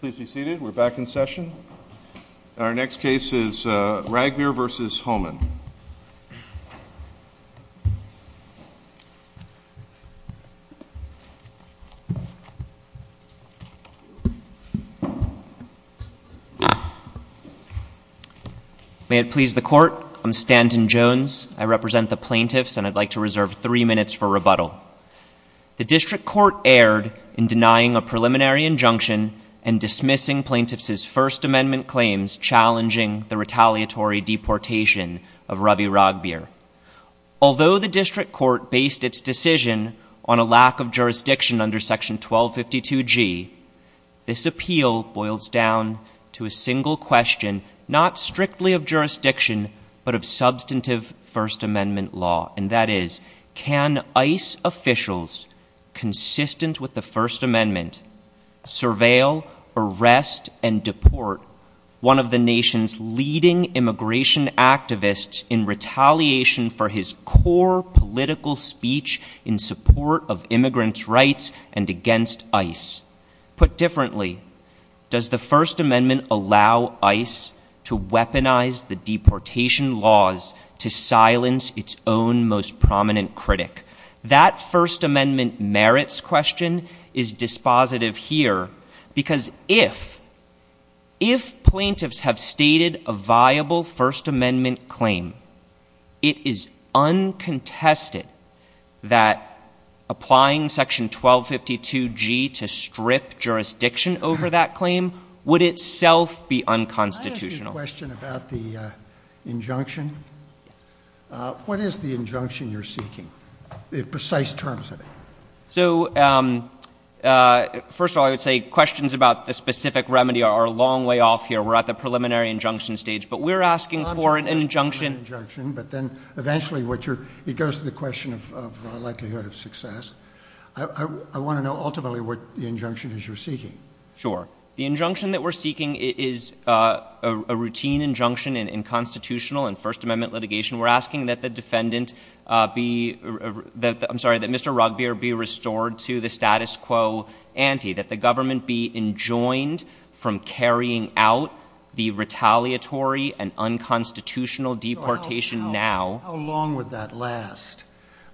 Please be seated. We're back in session. Our next case is Ragbir v. Homan. May it please the court, I'm Stanton Jones. I represent the plaintiffs and I'd like to reserve three minutes for rebuttal. The district court erred in denying a preliminary injunction and dismissing plaintiffs' First Amendment claims challenging the retaliatory deportation of Rabi Ragbir. Although the district court based its decision on a lack of jurisdiction under Section 1252G, this appeal boils down to a single question, not strictly of jurisdiction, but of substantive First Amendment law. And that is, can ICE officials, consistent with the First Amendment, surveil, arrest, and deport one of the nation's leading immigration activists in retaliation for his core political speech in support of immigrants' rights and against ICE? Put differently, does the First Amendment allow ICE to weaponize the deportation laws to silence its own most prominent critic? That First Amendment merits question is dispositive here because if, if plaintiffs have stated a viable First Amendment claim, it is uncontested that applying Section 1252G to strip jurisdiction over that claim would itself be unconstitutional. I have a question about the injunction. What is the injunction you're seeking, the precise terms of it? So, um, uh, first of all, I would say questions about the specific remedy are a long way off here. We're at the preliminary injunction stage, but we're asking for an injunction. But then eventually what you're, it goes to the question of, of likelihood of success. I want to know ultimately what the injunction is you're seeking. Sure. The injunction that we're seeking is, uh, a routine injunction in constitutional and First Amendment litigation. We're asking that the defendant, uh, be, that I'm sorry, that Mr. Rugbeer be restored to the status quo ante, that the government be enjoined from carrying out the retaliatory and unconstitutional deportation. Now, how long would that last?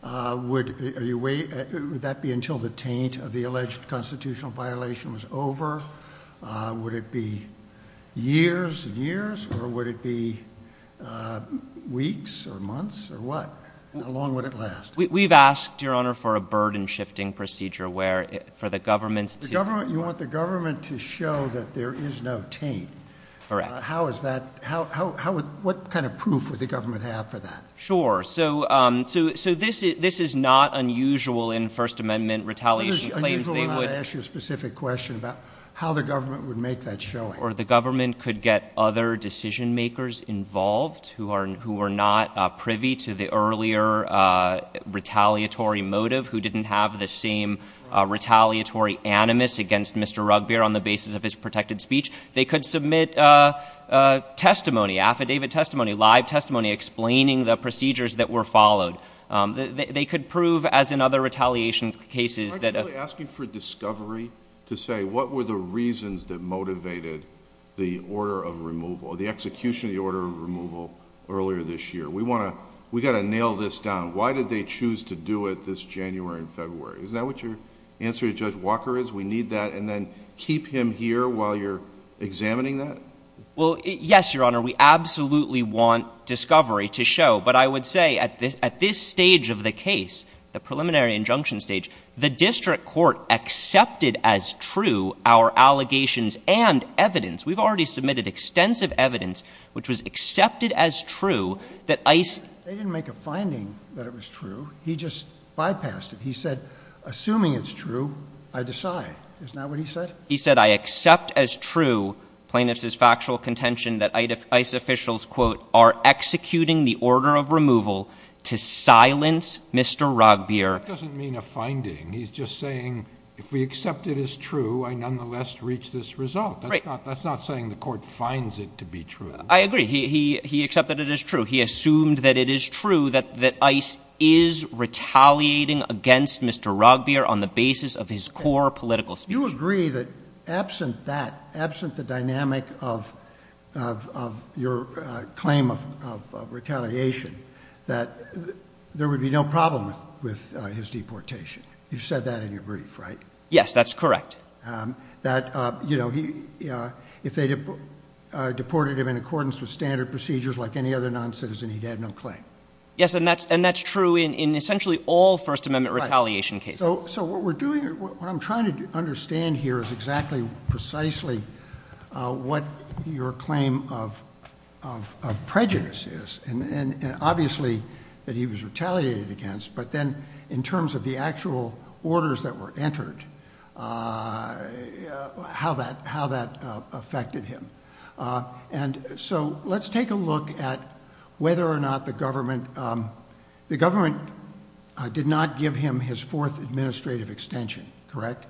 Uh, would you wait? Would that be until the taint of the alleged constitutional violation was over? Uh, would it be years and years or would it be, uh, weeks or months or what? How long would it last? We've asked your honor for a burden shifting procedure where for the government, the government, you want the government to show that there is no taint. Correct. How is that? How, how, how would, what kind of proof would the government have for that? Sure. So, um, so, so this is, this is not unusual in First Amendment retaliation claims. They would ask you a specific question about how the government would make that show or the government could get other decision makers involved who are, who are not privy to the earlier, uh, retaliatory motive, who didn't have the same retaliatory animus against Mr. Rugbeer on the basis of his protected speech. They could submit a testimony, affidavit testimony, live testimony, explaining the procedures that were followed. Um, they, they could prove as another retaliation cases that asking for discovery to say what were the reasons that motivated the order of removal, the execution of the order of removal earlier this year. We want to, we got to nail this down. Why did they choose to do it this January and February? Is that what your answer to judge Walker is? We need that. And then keep him here while you're examining that. Well, yes, Your Honor, we absolutely want discovery to show, but I would say at this, at this stage of the case, the preliminary injunction stage, the district court accepted as true our allegations and evidence. We've already submitted extensive evidence, which was accepted as true that ice. They didn't make a finding that it was true. He just bypassed it. He said, assuming it's true, I decide it's not what he said. He said, I accept as true plaintiffs is factual contention that I'd have ice officials quote, are executing the order of removal to silence Mr. Rock beer. It doesn't mean a finding. He's just saying, if we accept it as true, I nonetheless reach this result. That's not, that's not saying the court finds it to be true. I agree. He, he, he accepted it as true. He assumed that it is true that, that ice is retaliating against Mr. Rock beer on the basis of his core political speech. Do you agree that absent that absent the dynamic of, of, of your claim of, of, of retaliation, that there would be no problem with, with his deportation? You've said that in your brief, right? Yes, that's correct. Um, that, uh, you know, he, uh, if they deported him in accordance with standard procedures, like any other non-citizen, he'd had no claim. Yes. And that's, and that's true in, in essentially all first amendment retaliation cases. So what we're doing, what I'm trying to understand here is exactly precisely, uh, what your claim of, of, of prejudice is. And, and, and obviously that he was retaliated against, but then in terms of the actual orders that were entered, uh, how that, how that affected him. Uh, and so let's take a look at whether or not the government, um, the government, uh, did not give him his fourth administrative extension, correct?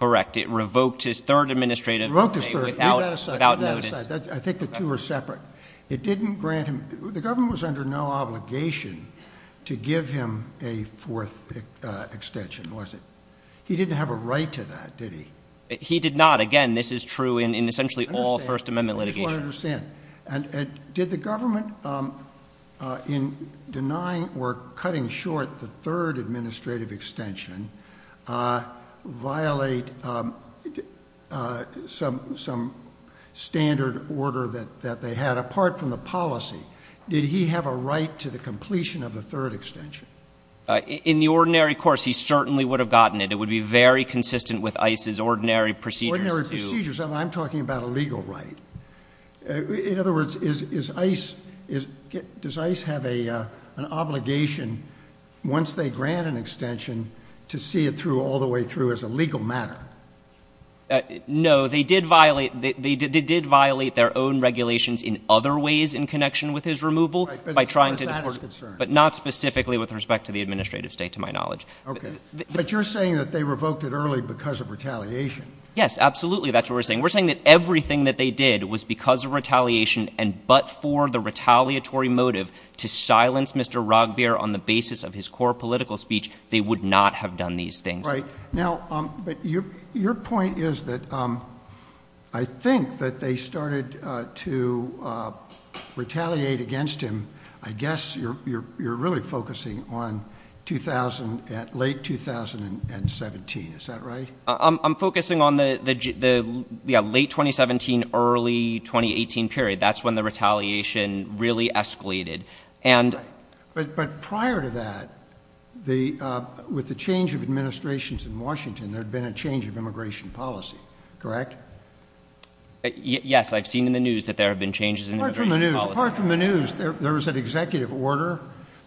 Correct. It revoked his third administrative without notice. I think the two are separate. It didn't grant him, the government was under no obligation to give him a fourth, uh, extension, was it? He didn't have a right to that, did he? He did not. Again, this is true in, in essentially all first amendment litigation. I don't understand. And, and did the government, um, uh, in denying or cutting short the third administrative extension, uh, violate, um, uh, some, some standard order that, that they had apart from the policy, did he have a right to the completion of the third extension? In the ordinary course, he certainly would have gotten it. It would be very consistent with ICE's ordinary procedures. I'm talking about a legal right. Uh, in other words, is, is ICE, is, does ICE have a, uh, an obligation once they grant an extension to see it through all the way through as a legal matter? Uh, no, they did violate, they did, they did violate their own regulations in other ways in connection with his removal by trying to, but not specifically with respect to the administrative state, to my knowledge. Okay. But you're saying that they revoked it early because of retaliation. Yes, absolutely. That's what we're saying. We're saying that everything that they did was because of retaliation and, but for the retaliatory motive to silence Mr. Rogbier on the basis of his core political speech, they would not have done these things. Right now. Um, but your, your point is that, um, I think that they started, uh, to, uh, retaliate against him. I guess you're, you're, you're focusing on the late 2017. Is that right? I'm focusing on the, the, the late 2017, early 2018 period. That's when the retaliation really escalated. And, but, but prior to that, the, uh, with the change of administrations in Washington, there had been a change of immigration policy, correct? Yes. I've seen in the news that there have been changes in the news. There was an executive order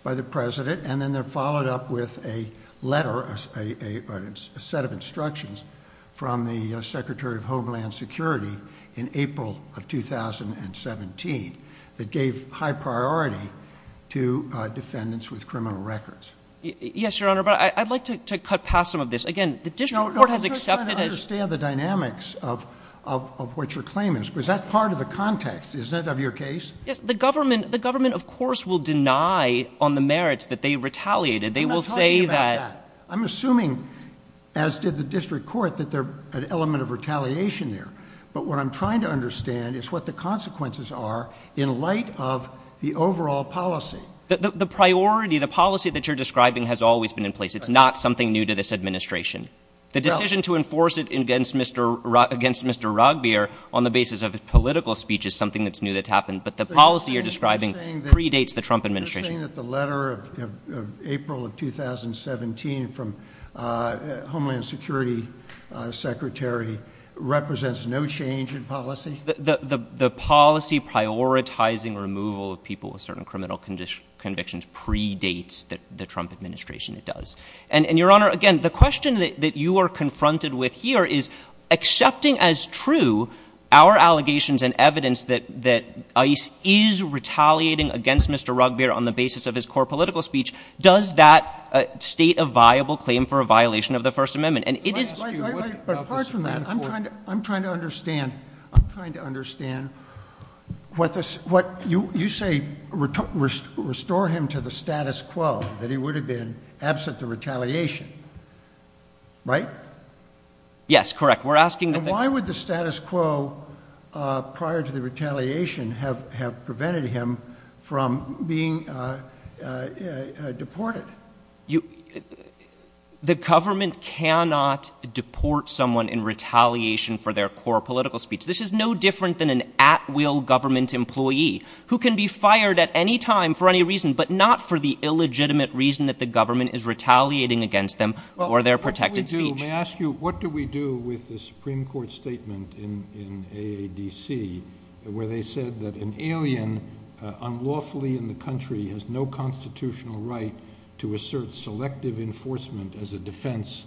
by the president and then they're followed up with a letter, a, a, a set of instructions from the secretary of Homeland security in April of 2017 that gave high priority to defendants with criminal records. Yes, your honor. But I'd like to cut past some of this. Again, the district court has accepted the dynamics of, of, of what your claimants was. That's part of the context. Is that of your case? Yes. The government, the government of course will deny on the merits that they retaliated. They will say that I'm assuming as did the district court that they're an element of retaliation there. But what I'm trying to understand is what the consequences are in light of the overall policy. The priority, the policy that you're describing has always been in place. It's not something new to this administration. The decision to enforce it against Mr. Rock against Mr. Rugby or on the basis of political speech is something that's new that happened. But the policy you're describing predates the Trump administration. The letter of April of 2017 from a Homeland security secretary represents no change in policy. The policy prioritizing removal of people with certain criminal condition convictions predates that the Trump administration, it does. And, and your honor, again, the question that you are confronted with here is accepting as true our allegations and evidence that, that ice is retaliating against Mr. Rugby or on the basis of his core political speech. Does that state a viable claim for a violation of the first amendment? And it is, but apart from that, I'm trying to, I'm trying to understand, I'm trying to understand what this, what you, you say, restore him to the status quo that he would have been absent the retaliation, right? Yes, correct. We're asking why would the status quo, uh, prior to the retaliation, have, have prevented him from being, uh, uh, uh, deported? You, the government cannot deport someone in retaliation for their core political speech. This is no different than an at will government employee who can be fired at any time for any reason, but not for the illegitimate reason that the government is retaliating against them or their protected speech. May I ask you, what do we do with the Supreme Court statement in, in AADC where they said that an alien unlawfully in the country has no constitutional right to assert selective enforcement as a defense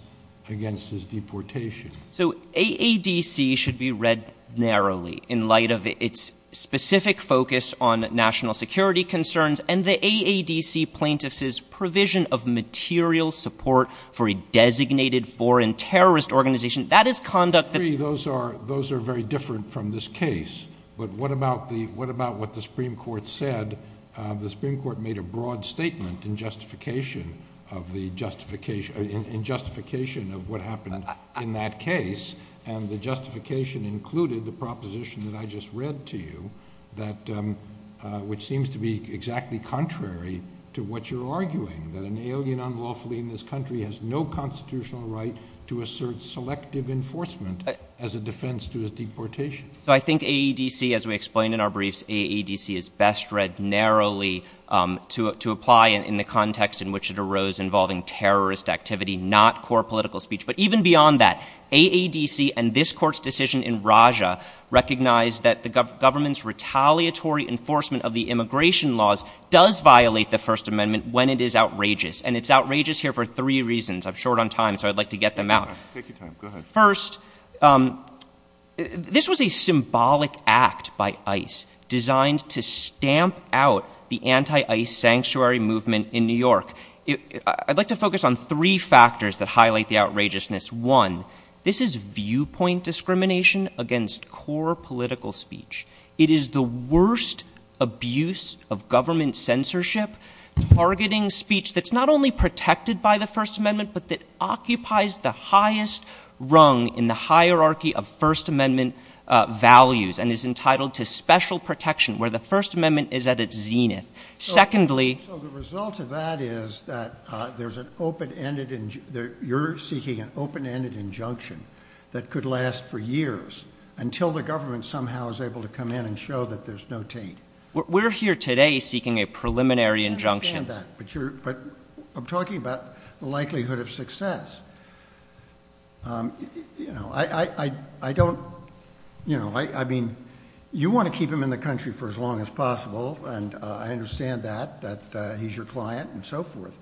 against his deportation? So AADC should be read narrowly in light of its specific focus on national security concerns and the AADC plaintiffs is provision of material support for a designated foreign terrorist organization. That is conduct that those are, those are very different from this case. But what about the, what about what the Supreme Court said? Uh, the Supreme Court made a broad statement in justification of the justification in justification of what happened in that case. And the justification included the proposition that I just read to you that, um, uh, which seems to be exactly contrary to what you're arguing, that an alien unlawfully in this country has no constitutional right to assert selective enforcement as a defense to his deportation. So I think AADC, as we explained in our briefs, AADC is best read narrowly, um, to, to apply in the context in which it arose involving terrorist activity, not core political speech. But even beyond that, AADC and this court's decision in Raja recognized that the government's retaliatory enforcement of the immigration laws does violate the First Amendment when it is outrageous. And it's outrageous here for three reasons. I'm short on time, so I'd like to get them out. Take your time. Go ahead. First, um, this was a symbolic act by ICE designed to stamp out the anti-ICE sanctuary movement in New York. I'd like to focus on three factors that highlight the outrageousness. One, this is viewpoint discrimination against core political speech. It is the worst abuse of government censorship targeting speech that's not only protected by the First Amendment, but that occupies the highest rung in the hierarchy of First Amendment, uh, values and is entitled to special protection where the First Amendment is at its zenith. Secondly... I don't, you know, I, I, I don't, you know, I, I mean, you want to keep him in the country for as long as possible. And, uh, I understand that, that, uh, he's your client and so forth.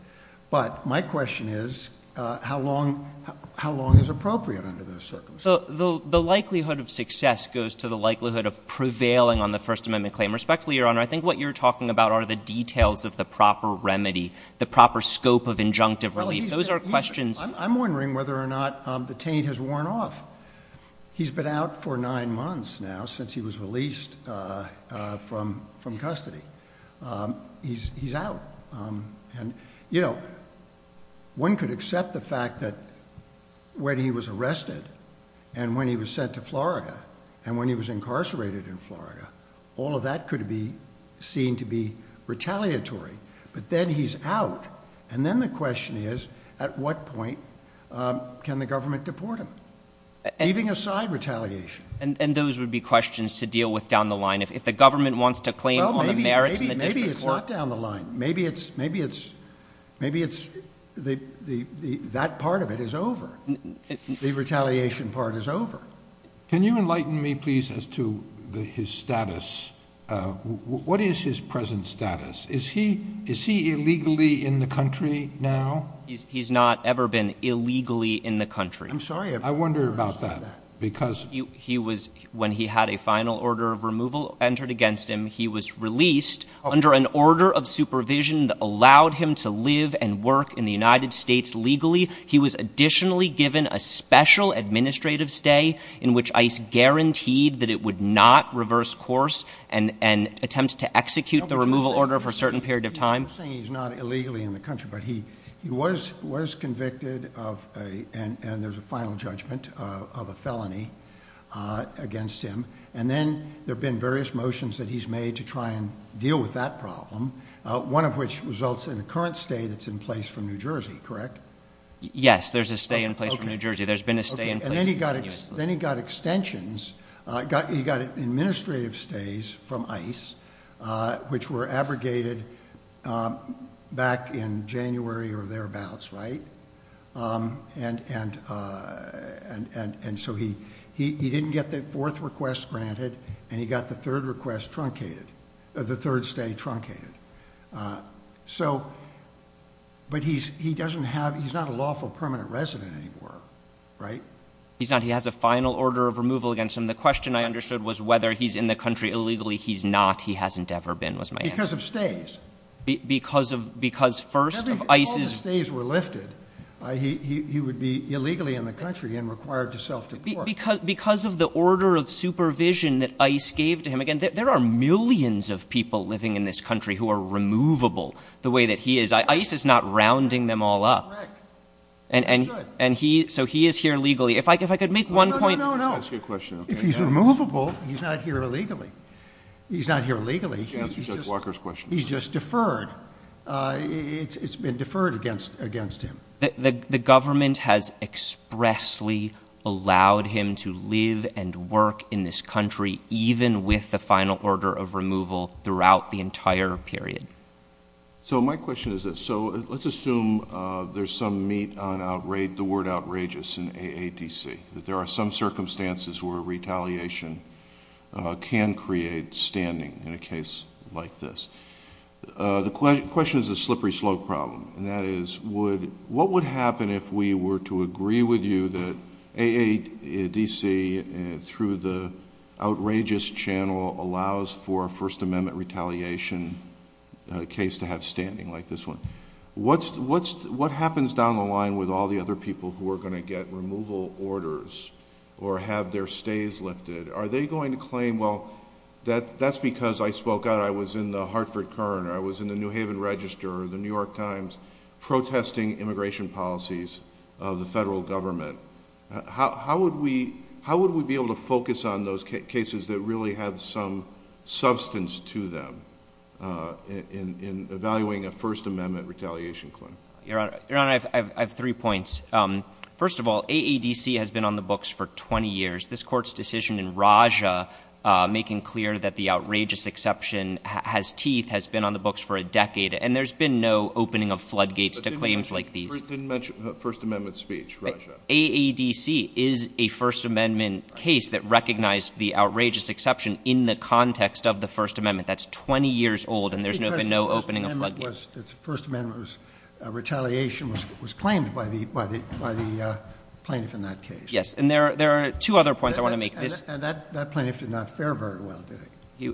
But my question is, uh, how long, how long is appropriate under those circumstances? The likelihood of success goes to the likelihood of prevailing on the First Amendment claim. Respectfully, Your Honor, I think what you're talking about are the details of the proper remedy, the proper scope of injunctive relief. Those are questions... I'm wondering whether or not, um, the taint has worn off. He's been out for nine months now since he was released, uh, uh, from, from custody. Um, he's, he's out. Um, and you know, one could accept the fact that when he was arrested and when he was sent to Florida and when he was incarcerated in Florida, all of that could be seen to be retaliatory, but then he's out. And then the question is, at what point, um, can the government deport him? Leaving aside retaliation. And those would be questions to deal with down the line. If, if the government wants to claim on the merits and the district court... Well, maybe, maybe it's not down the line. Maybe it's, maybe it's, maybe it's the, the, that part of it is over. The retaliation part is over. Can you enlighten me please as to the, his status? Uh, what is his present status? Is he, is he illegally in the country now? He's not ever been illegally in the country. I'm sorry. I wonder about that because... He was, when he had a final order of removal entered against him, he was released under an order of supervision that allowed him to live and work in the United States legally. He was additionally given a special administrative stay in which ICE guaranteed that it would not reverse course and, and attempt to execute the removal order for a certain period of time. I'm saying he's not illegally in the country, but he, he was, was convicted of a, and there's a final judgment of a felony, uh, against him. And then there've been various motions that he's made to try and deal with that problem. Uh, one of which results in a current stay that's in place for New Jersey, correct? Yes, there's a stay in place for New Jersey. There's been a stay in place... And then he got, then he got extensions, uh, got, he got administrative stays from ICE, uh, which were abrogated, um, back in January or thereabouts, right? Um, and, and, uh, and, and, and so he, he, he didn't get the fourth request granted and he got the third request truncated, the third stay truncated. Uh, so, but he's, he doesn't have, he's not a lawful permanent resident anymore, right? He's not. He has a final order of removal against him. The question I understood was whether he's in the country illegally. He's not. He hasn't ever been, was my answer. Because of stays. Because of, because first of ICE's... If all the stays were lifted, uh, he, he, he would be illegally in the country and required to self-deport. Because of the order of supervision that ICE gave to him. Again, there are millions of people living in this country who are removable the way that he is. ICE is not rounding them all up. Correct. And, and, and he, so he is here legally. If I could, if I could make one point... No, no, no, no, no. That's my question. If he's removable, he's not here illegally. He's not here illegally. You can answer Judge Walker's question. He's just deferred. Uh, it's, it's been deferred against, against him. The government has expressly allowed him to live and work in this country, even with the final order of removal throughout the entire period. So my question is this. So let's assume, uh, there's some meat on outrage, the word outrageous in AADC, that there are some circumstances where retaliation, uh, can create standing in a case like this. Uh, the question is a slippery slope problem. And that is, would, what would happen if we were to agree with you that AADC through the outrageous channel allows for a First Amendment retaliation case to have standing like this one? What's, what's, what comes down the line with all the other people who are going to get removal orders or have their stays lifted? Are they going to claim, well, that, that's because I spoke out, I was in the Hartford Kern, I was in the New Haven Register, the New York Times protesting immigration policies of the federal government. How, how would we, how would we be able to focus on those cases that really have some substance to them, uh, in, in evaluating a First Amendment retaliation claim? Your Honor, Your Honor, I've, I've, I've three points. Um, first of all, AADC has been on the books for 20 years. This Court's decision in Raja, uh, making clear that the outrageous exception has teeth, has been on the books for a decade. And there's been no opening of floodgates to claims like these. But didn't mention, didn't mention First Amendment speech, Raja. AADC is a First Amendment case that recognized the outrageous exception in the context of the First Amendment. That's 20 years old and there's no, been no opening of floodgates. So it was, it's First Amendment retaliation was, was claimed by the, by the, by the plaintiff in that case. Yes. And there are, there are two other points I want to make. And that, that plaintiff did not fare very well, did he?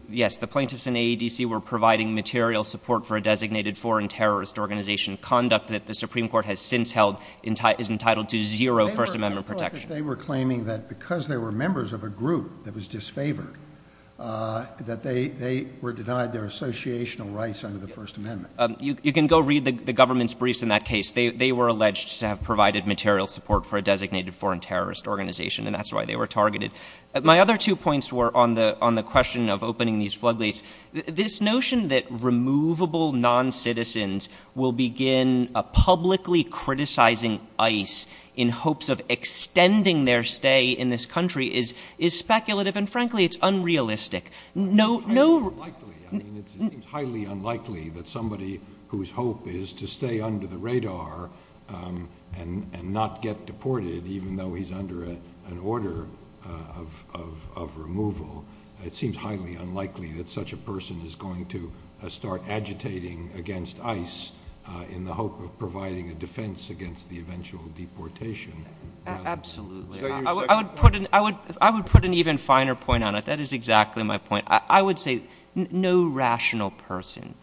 Yes. The plaintiffs in AADC were providing material support for a designated foreign terrorist organization. Conduct that the Supreme Court has since held is entitled to zero First Amendment protection. They were claiming that because they were members of a group that was disfavored, uh, that they, they were denied their associational rights under the First Amendment. Um, you can go read the, the government's briefs in that case. They, they were alleged to have provided material support for a designated foreign terrorist organization and that's why they were targeted. My other two points were on the, on the question of opening these floodgates. This notion that removable non-citizens will begin publicly criticizing ICE in hopes of extending their stay in this country is, is speculative and frankly, it's unrealistic. No, no. It's highly unlikely. I mean, it seems highly unlikely that somebody whose hope is to stay under the radar, um, and, and not get deported, even though he's under a, an order, uh, of, of, of removal, it seems highly unlikely that such a person is going to start agitating against ICE, uh, in the hope of providing a defense against the eventual deportation. Absolutely. I would put an, I would, I would put an even finer point on it. That is exactly my point. I would say no rational person,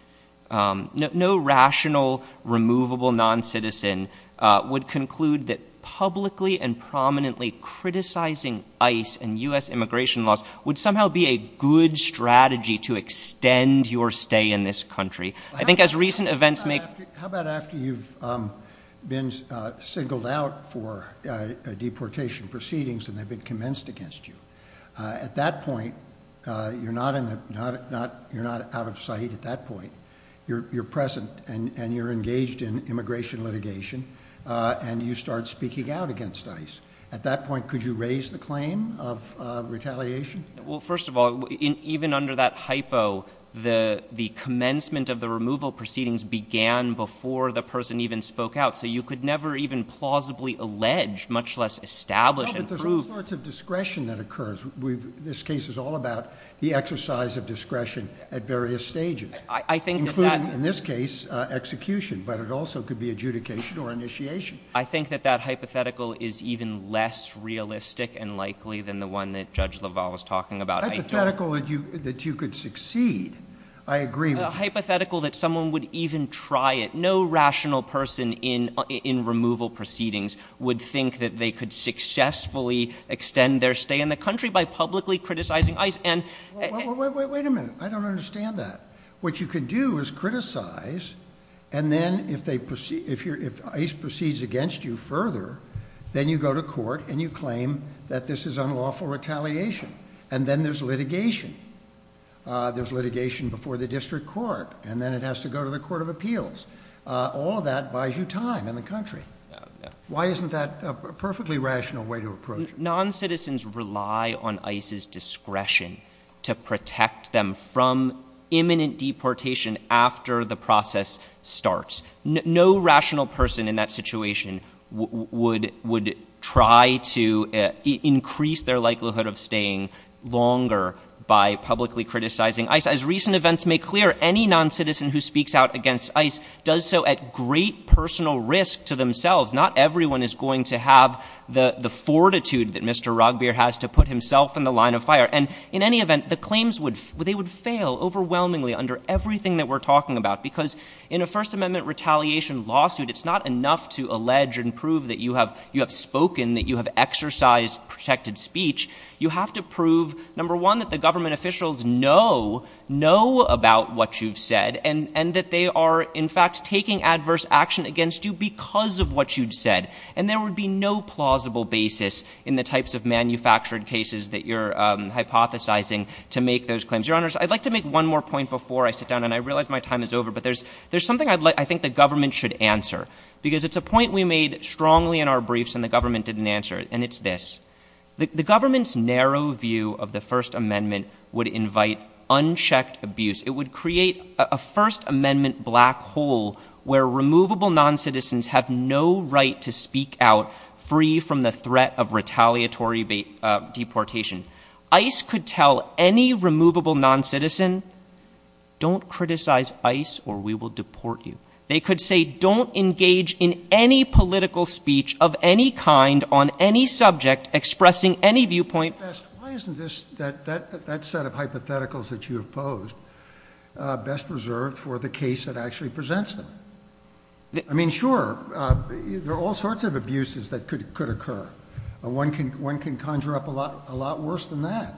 um, no, no rational removable non-citizen, uh, would conclude that publicly and prominently criticizing ICE and US immigration laws would somehow be a good strategy to extend your stay in this country. I think as recent events make, how about after you've, um, been, uh, singled out for a deportation proceedings and they've been commenced against you, uh, at that point, uh, you're not in the, not, not, you're not out of sight at that point. You're, you're present and, and you're engaged in immigration litigation, uh, and you start speaking out against ICE at that point. Could you raise the claim of, uh, retaliation? Well, first of all, even under that hypo, the, the commencement of the removal proceedings began before the person even spoke out. So you could never even plausibly allege, much less establish and prove. There's all sorts of discretion that occurs. We've, this case is all about the exercise of discretion at various stages. I think that in this case, uh, execution, but it also could be adjudication or initiation. I think that that hypothetical is even less realistic and likely than the one that judge LaValle was talking about. Hypothetical that you, that you could succeed. I agree. Hypothetical that someone would even try it. No rational person in, in removal proceedings would think that they could successfully extend their stay in the country by publicly criticizing ICE. And wait, wait, wait a minute. I don't understand that. What you could do is criticize and then if they proceed, if you're, if ICE proceeds against you further, then you go to court and you claim that this is unlawful retaliation. And then there's litigation. Uh, there's litigation before the district court and then it has to go to the court of appeals. Uh, all of that buys you time in the country. Why isn't that a perfectly rational way to approach it? Non-citizens rely on ICE's discretion to protect them from imminent deportation after the process starts. No rational person in that situation would, would try to increase their likelihood of staying longer by publicly criticizing ICE. As recent events make clear, any non-citizen who speaks out against ICE does so at great personal risk to themselves. Not everyone is going to have the, the fortitude that Mr. Roggebeer has to put himself in the line of fire. And in any event, the claims would, they would fail overwhelmingly under everything that we're talking about. Because in a first amendment retaliation lawsuit, it's not enough to allege and prove that you have, you have spoken, that you have exercised protected speech. You have to prove number one, that the government officials know, know about what you've said and, and that they are in fact taking adverse action against you because of what you'd said. And there would be no plausible basis in the types of manufactured cases that you're, um, hypothesizing to make those claims. Your honors, I'd like to make one more point before I sit down and I realize my time is over, but there's, there's something I'd like, I think the government should answer because it's a point we made strongly in our briefs and the government didn't answer it. And it's this, the, the government's narrow view of the first amendment would invite unchecked abuse. It would create a first amendment black hole where removable non-citizens have no right to speak out free from the threat of retaliatory, uh, deportation. ICE could tell any removable non-citizen, don't criticize ICE or we will deport you. They could say, don't engage in any political speech of any kind on any subject expressing any viewpoint. Why isn't this, that, that, that set of hypotheticals that you opposed, uh, best reserved for the case that actually presents them? I mean, sure, uh, there are all sorts of abuses that could, could occur. One can, one can conjure up a lot, a lot worse than that.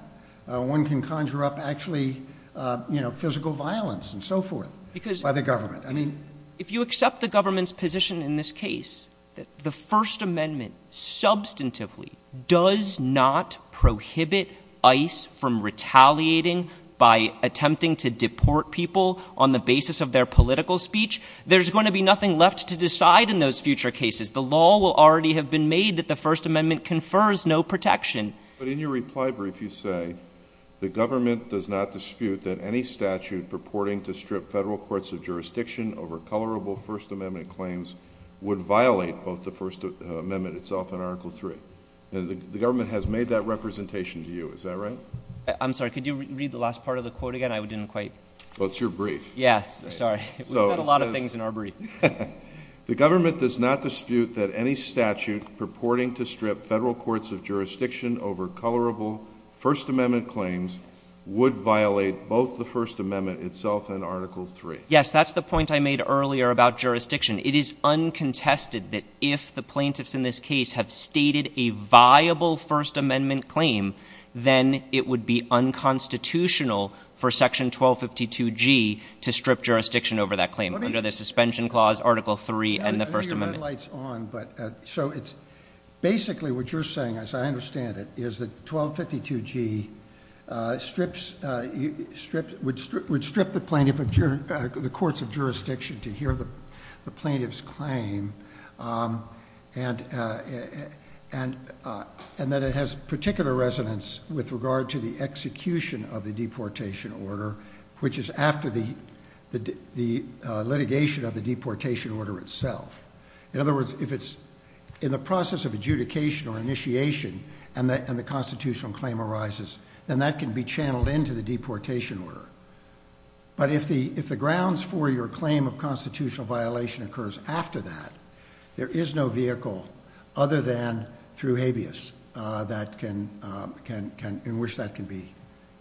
Uh, one can conjure up actually, uh, you know, physical violence and so forth because by the government, I mean, if you accept the government's position in this case, that the first amendment substantively does not prohibit ICE from retaliating by attempting to deport people on the basis of their political speech, there's going to be nothing left to decide in those future cases. The law will already have been made that the first amendment confers no protection. But in your reply brief, you say the government does not dispute that any statute purporting to strip federal courts of jurisdiction over colorable first amendment claims would violate both the first amendment itself and article three. And the government has made that representation to you. Is that right? I'm sorry. Could you read the last part of the quote again? I didn't quite. Well, it's your brief. Yes. Sorry. We've got a lot of things in our brief. The government does not dispute that any statute purporting to strip federal courts of jurisdiction over colorable first amendment claims would violate both the first amendment itself and article three. Yes, that's the point I made earlier about jurisdiction. It is uncontested that if the plaintiffs in this case have stated a viable first amendment claim, then it would be unconstitutional for section 1252 G to strip jurisdiction over that claim under the suspension clause article three and the first amendment. I know your red light's on, but so it's basically what you're saying, as I understand it, is that 1252 G strips, would strip the plaintiff of the courts of jurisdiction to hear the plaintiff's claim. And that it has particular resonance with regard to the execution of the deportation order, which is after the litigation of the deportation order itself. In other words, if it's in the process of adjudication or initiation and the constitutional claim arises, then that can be channeled into the deportation order. But if the grounds for your claim of constitutional violation occurs after that, there is no vehicle other than through habeas in which that can be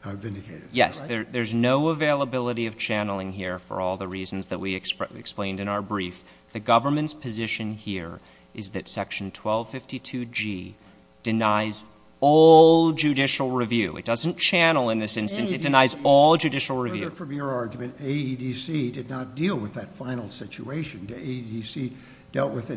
vindicated. Yes. There's no availability of channeling here for all the reasons that we explained in our brief. The government's position here is that section 1252 G denies all judicial review. It doesn't channel in this instance. It denies all judicial review. Further from your argument, AEDC did not deal with that final situation. AEDC dealt with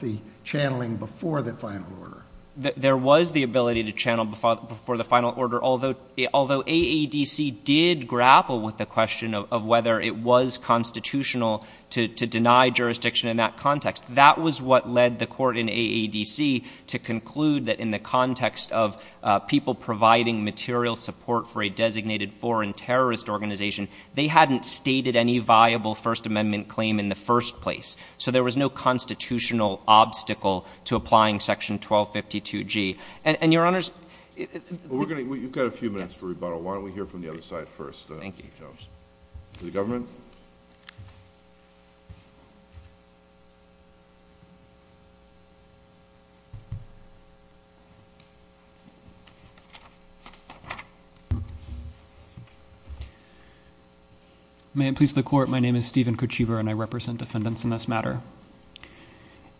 the channeling before the final order. There was the ability to channel before the final order, although AEDC did grapple with the question of whether it was constitutional to deny jurisdiction in that context. That was what led the court in AEDC to conclude that in the context of people providing material support for a designated foreign terrorist organization, they hadn't stated any viable First Amendment claim in the first place. So there was no constitutional obstacle to applying section 1252 G. And, Your Honors, we're going to, you've got a few minutes for rebuttal. Why don't we hear from the other side first? Thank you, Your Honors. To the government? May it please the court, my name is Stephen Kochevar and I represent defendants in this matter.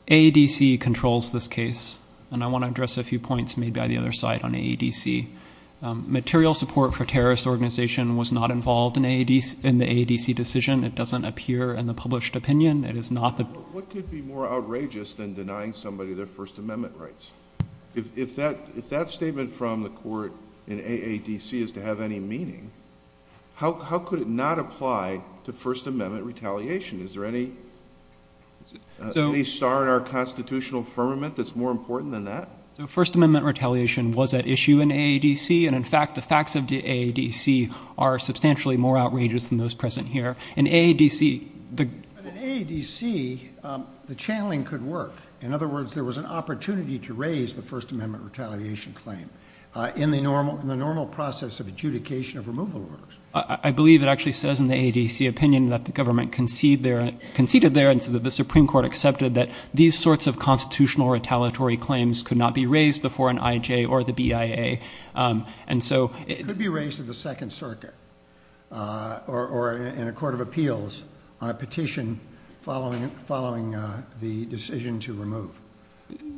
AEDC controls this case and I want to address a few points made by the other side on AEDC. Material support for terrorist organization was not involved in AEDC, in the AEDC decision. It doesn't appear in the published opinion. It is not the... What could be more outrageous than denying somebody their First Amendment rights? If that, if that statement from the court in AEDC is to have any meaning, how could it not apply to First Amendment retaliation? Is there any star in our constitutional firmament that's more important than that? So First Amendment retaliation was at issue in AEDC. And in fact, the facts of the AEDC are substantially more outrageous than those present here. In AEDC, the... But in AEDC, the channeling could work. In other words, there was an opportunity to raise the First Amendment retaliation claim in the normal process of adjudication of removal orders. I believe it actually says in the AEDC opinion that the government conceded there, and so the Supreme Court accepted that these sorts of constitutional retaliatory claims could not be raised before an IJ or the BIA. And so... It could be raised at the Second Circuit or in a court of appeals on a petition following the decision to remove.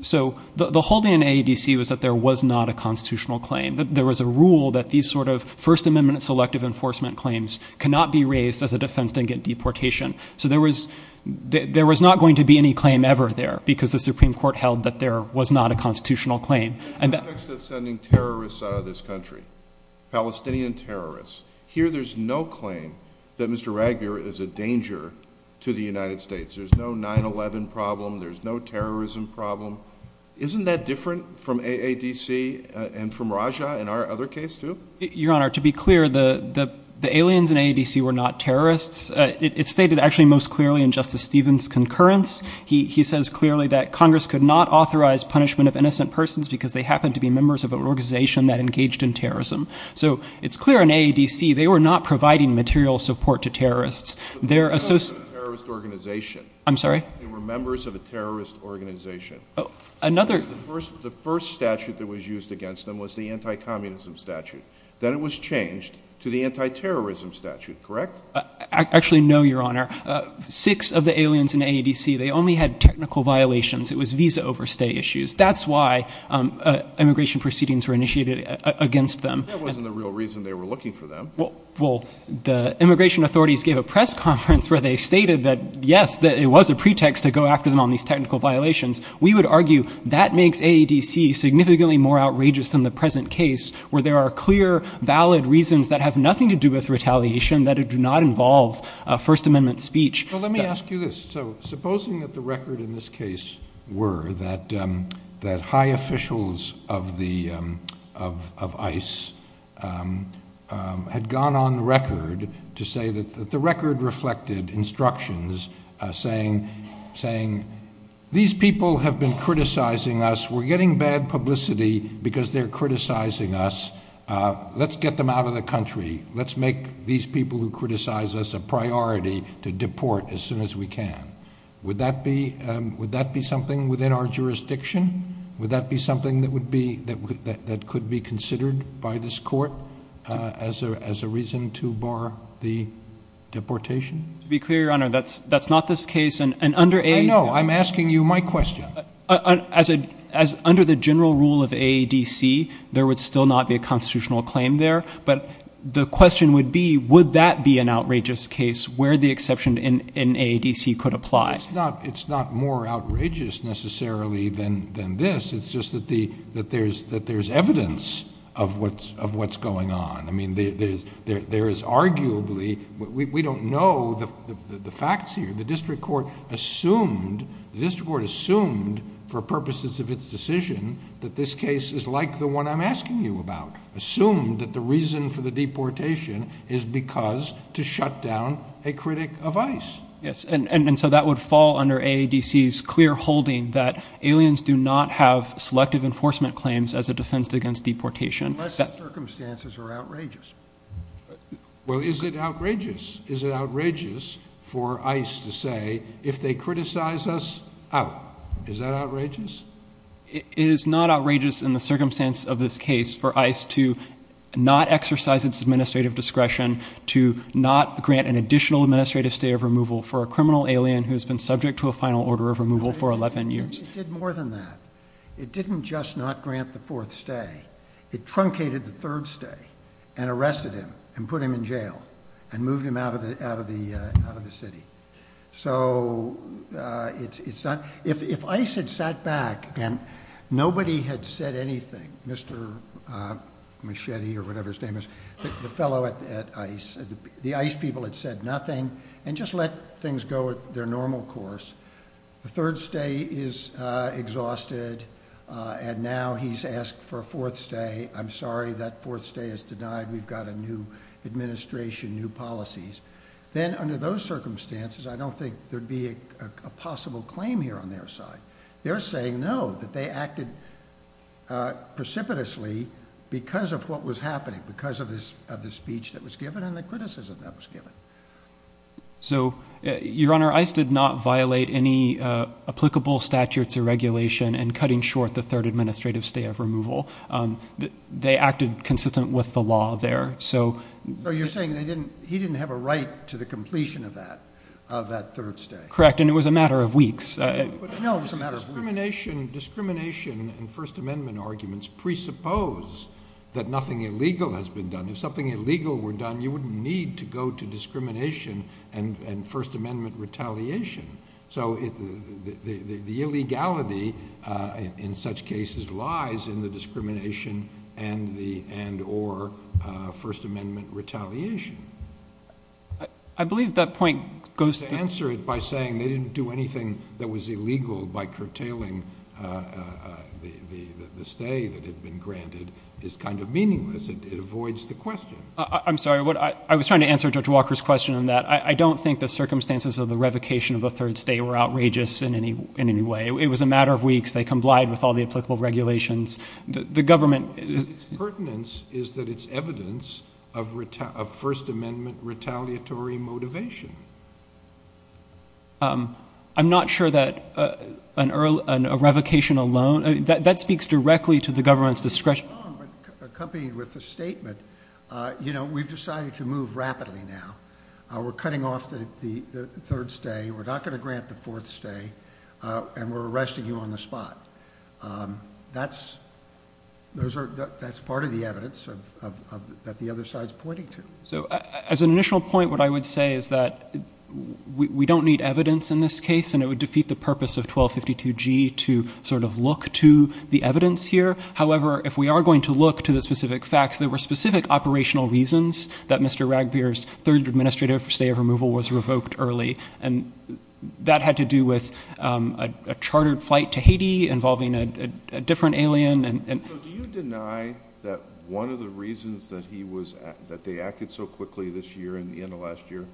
So the holding in AEDC was that there was not a constitutional claim, that there was a rule that these sort of First Amendment selective enforcement claims cannot be raised as a defense to get deportation. So there was not going to be any claim ever there, because the Supreme Court held that there was not a constitutional claim. In the context of sending terrorists out of this country, Palestinian terrorists, here there's no claim that Mr. Ragger is a danger to the United States. There's no 9-11 problem. There's no terrorism problem. Isn't that different from AEDC and from Raja in our other case too? Your Honor, to be clear, the aliens in AEDC were not terrorists. It's stated actually most clearly in Justice Stevens' concurrence. He says clearly that Congress could not authorize punishment of innocent persons because they happened to be members of an organization that engaged in terrorism. So it's clear in AEDC they were not providing material support to terrorists. They were members of a terrorist organization. I'm sorry? They were members of a terrorist organization. The first statute that was used against them was the anti-communism statute. Then it was changed to the anti-terrorism statute, correct? Actually no, Your Honor. Six of the aliens in AEDC, they only had technical violations. It was visa overstay issues. That's why immigration proceedings were initiated against them. That wasn't the real reason they were looking for them. The immigration authorities gave a press conference where they stated that yes, it was a pretext to go after them on these technical violations. We would argue that makes AEDC significantly more outrageous than the present case where there are clear, valid reasons that have nothing to do with retaliation that do not involve First Amendment speech. Let me ask you this. Supposing that the record in this case were that high officials of ICE had gone on the record to say that the record reflected instructions saying, these people have been criticizing us. We're getting bad publicity because they're criticizing us. Let's get them out of the country. Let's make these people who criticize us a priority to deport as soon as we can. Would that be something within our jurisdiction? Would that be something that could be considered by this court as a reason to bar the deportation? To be clear, Your Honor, that's not this case. I know. I'm asking you my question. Under the general rule of AEDC, there would still not be a constitutional claim there. The question would be, would that be an outrageous case where the exception in AEDC could apply? It's not more outrageous, necessarily, than this. It's just that there's evidence of what's going on. We don't know the facts here. The district court assumed, for purposes of its decision, that this case is like the one I'm asking you about. Assumed that the reason for the deportation is because to shut down a critic of ICE. Yes. And so that would fall under AEDC's clear holding that aliens do not have selective enforcement claims as a defense against deportation. Unless the circumstances are outrageous. Well, is it outrageous? Is it outrageous for ICE to say, if they criticize us, out? Is that outrageous? It is not outrageous in the circumstance of this case for ICE to not exercise its administrative discretion to not grant an additional administrative stay of removal for a criminal alien who's been subject to a final order of removal for 11 years. It did more than that. It didn't just not grant the fourth stay. It truncated the third stay and arrested him and put him in jail and moved him out of the city. So if ICE had sat back and nobody had said anything, Mr. Machete or whatever his name is, the fellow at ICE, the ICE people had said nothing and just let things go at their normal course. The third stay is exhausted and now he's asked for a fourth stay. I'm sorry, that fourth stay is denied. We've got a new administration, new policies. Then under those circumstances, I don't think there'd be a possible claim here on their side. They're saying no, that they acted precipitously because of what was happening, because of the speech that was given and the criticism that was given. So Your Honor, ICE did not violate any applicable statutes or regulation in cutting short the third administrative stay of removal. They acted consistent with the law there. So you're saying he didn't have a right to the completion of that third stay? Correct, and it was a matter of weeks. No, it was a matter of weeks. Discrimination and First Amendment arguments presuppose that nothing illegal has been done. If something illegal were done, you wouldn't need to go to discrimination and First Amendment retaliation. So the illegality in such cases lies in the discrimination and or First Amendment retaliation. I believe that point goes to- That what was illegal by curtailing the stay that had been granted is kind of meaningless. It avoids the question. I'm sorry. I was trying to answer Judge Walker's question on that. I don't think the circumstances of the revocation of a third stay were outrageous in any way. It was a matter of weeks. They complied with all the applicable regulations. The government- Its pertinence is that it's evidence of First Amendment retaliatory motivation. I'm not sure that a revocation alone, that speaks directly to the government's discretion. Accompanied with the statement, we've decided to move rapidly now. We're cutting off the third stay. We're not going to grant the fourth stay, and we're arresting you on the spot. That's part of the evidence that the other side's pointing to. As an initial point, what I would say is that we don't need evidence in this case, and it would defeat the purpose of 1252G to look to the evidence here. However, if we are going to look to the specific facts, there were specific operational reasons that Mr. Ragbir's third administrative stay of removal was revoked early. That had to do with a chartered flight to Haiti involving a different alien. Do you deny that one of the reasons that they acted so quickly this year and the end of last year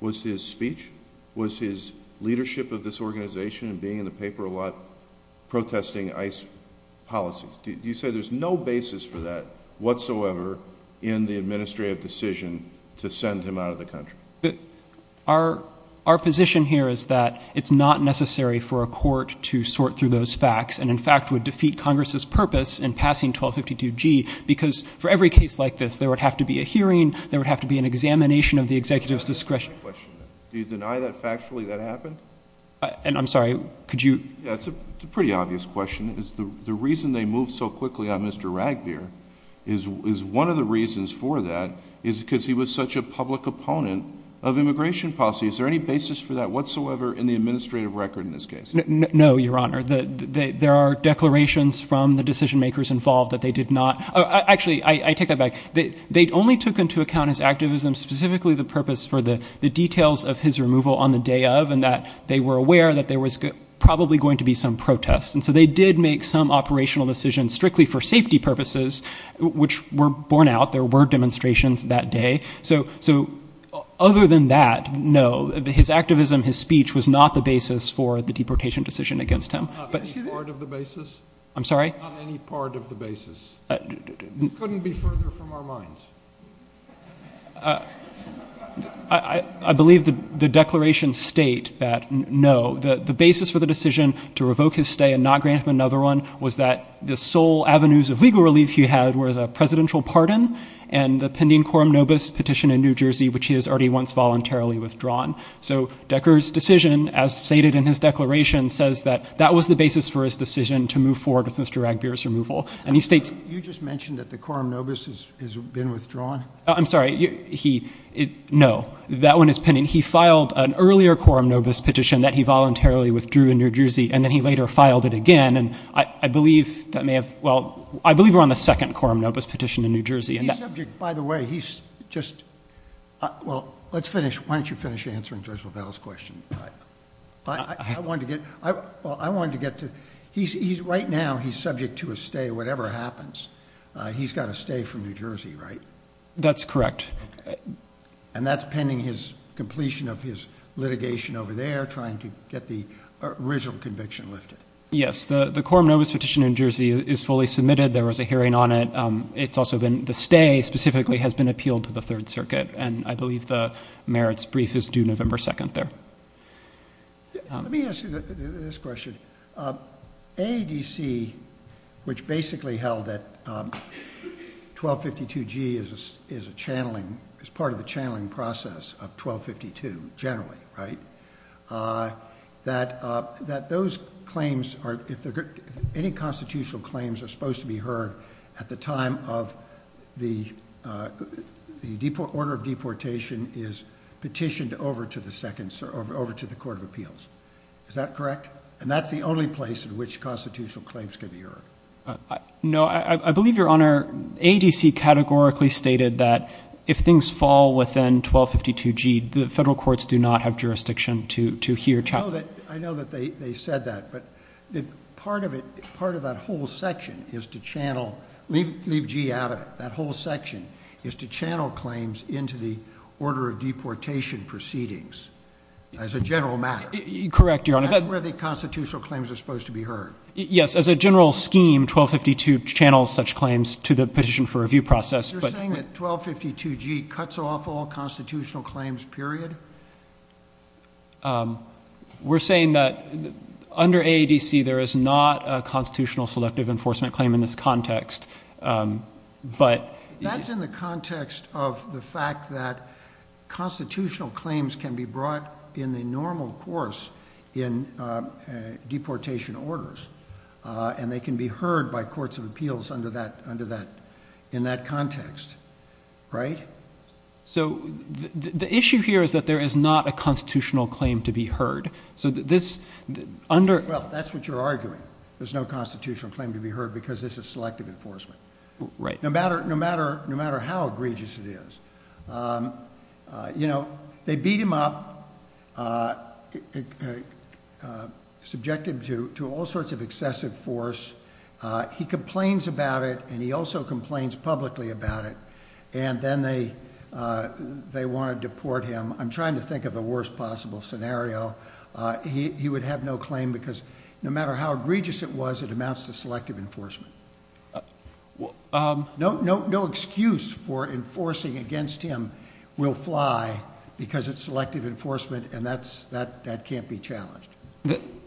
was his speech? Was his leadership of this organization and being in the paper a lot protesting ICE policies? Do you say there's no basis for that whatsoever in the administrative decision to send him out of the country? Our position here is that it's not necessary for a court to sort through those facts, and in fact would defeat Congress's purpose in passing 1252G, because for every case like this there would have to be a hearing, there would have to be an examination of the executive's discretion. Do you deny that factually that happened? And I'm sorry, could you? Yeah, it's a pretty obvious question. The reason they moved so quickly on Mr. Ragbir is one of the reasons for that is because he was such a public opponent of immigration policy. Is there any basis for that whatsoever in the administrative record in this case? No, Your Honor. There are declarations from the decision-makers involved that they did not – actually, I take that back. They only took into account his activism, specifically the purpose for the details of his removal on the day of, and that they were aware that there was probably going to be some protest. And so they did make some operational decisions strictly for safety purposes, which were borne out. There were demonstrations that day. So other than that, no. His activism, his speech was not the basis for the deportation decision against him. Not any part of the basis? I'm sorry? Not any part of the basis. It couldn't be further from our minds. I believe the declarations state that no. The basis for the decision to revoke his stay and not grant him another one was that the sole avenues of legal relief he had was a voluntarily withdrawn. So, Decker's decision, as stated in his declaration, says that that was the basis for his decision to move forward with Mr. Ragbir's removal. And he states – You just mentioned that the quorum nobis has been withdrawn? I'm sorry. He – no. That one is pending. He filed an earlier quorum nobis petition that he voluntarily withdrew in New Jersey, and then he later filed it again. And I believe that may have – well, I believe we're on the second quorum nobis petition in New Jersey. He's subject – by the way, he's just – well, let's finish. Why don't you finish answering Judge LaValle's question? I wanted to get – I wanted to get to – he's – right now, he's subject to a stay, whatever happens. He's got a stay from New Jersey, right? That's correct. Okay. And that's pending his completion of his litigation over there, trying to get the original conviction lifted? Yes. The quorum nobis petition in New Jersey is fully submitted. There was a hearing on it. It's also been – the stay specifically has been appealed to the Third Circuit, and I believe the merits brief is due November 2nd there. Let me ask you this question. AADC, which basically held that 1252G is a channeling – is part of the channeling process of 1252 generally, right? That those claims are – if any constitutional claims are supposed to be heard at the time of the order of deportation is petitioned over to the Second – over to the Court of Appeals. Is that correct? And that's the only place in which constitutional claims can be heard? No. I believe, Your Honor, AADC categorically stated that if things fall within 1252G, the I know that they said that, but part of it – part of that whole section is to channel – leave G out of it. That whole section is to channel claims into the order of deportation proceedings as a general matter. Correct, Your Honor. That's where the constitutional claims are supposed to be heard. Yes. As a general scheme, 1252 channels such claims to the petition for review process, but – You're saying that 1252G cuts off all constitutional claims, period? We're saying that under AADC there is not a constitutional selective enforcement claim in this context, but – That's in the context of the fact that constitutional claims can be brought in the normal course in deportation orders, and they can be heard by Courts of Appeals under that – in that context, right? So the issue here is that there is not a constitutional claim to be heard. So this – Well, that's what you're arguing. There's no constitutional claim to be heard because this is selective enforcement. Right. No matter how egregious it is. You know, they beat him up, subject him to all sorts of excessive force. He complains about it, and he also complains publicly about it, and then they want to deport him. I'm trying to think of the worst possible scenario. He would have no claim because no matter how egregious it was, it amounts to selective enforcement. No excuse for enforcing against him will fly because it's selective enforcement, and that can't be challenged.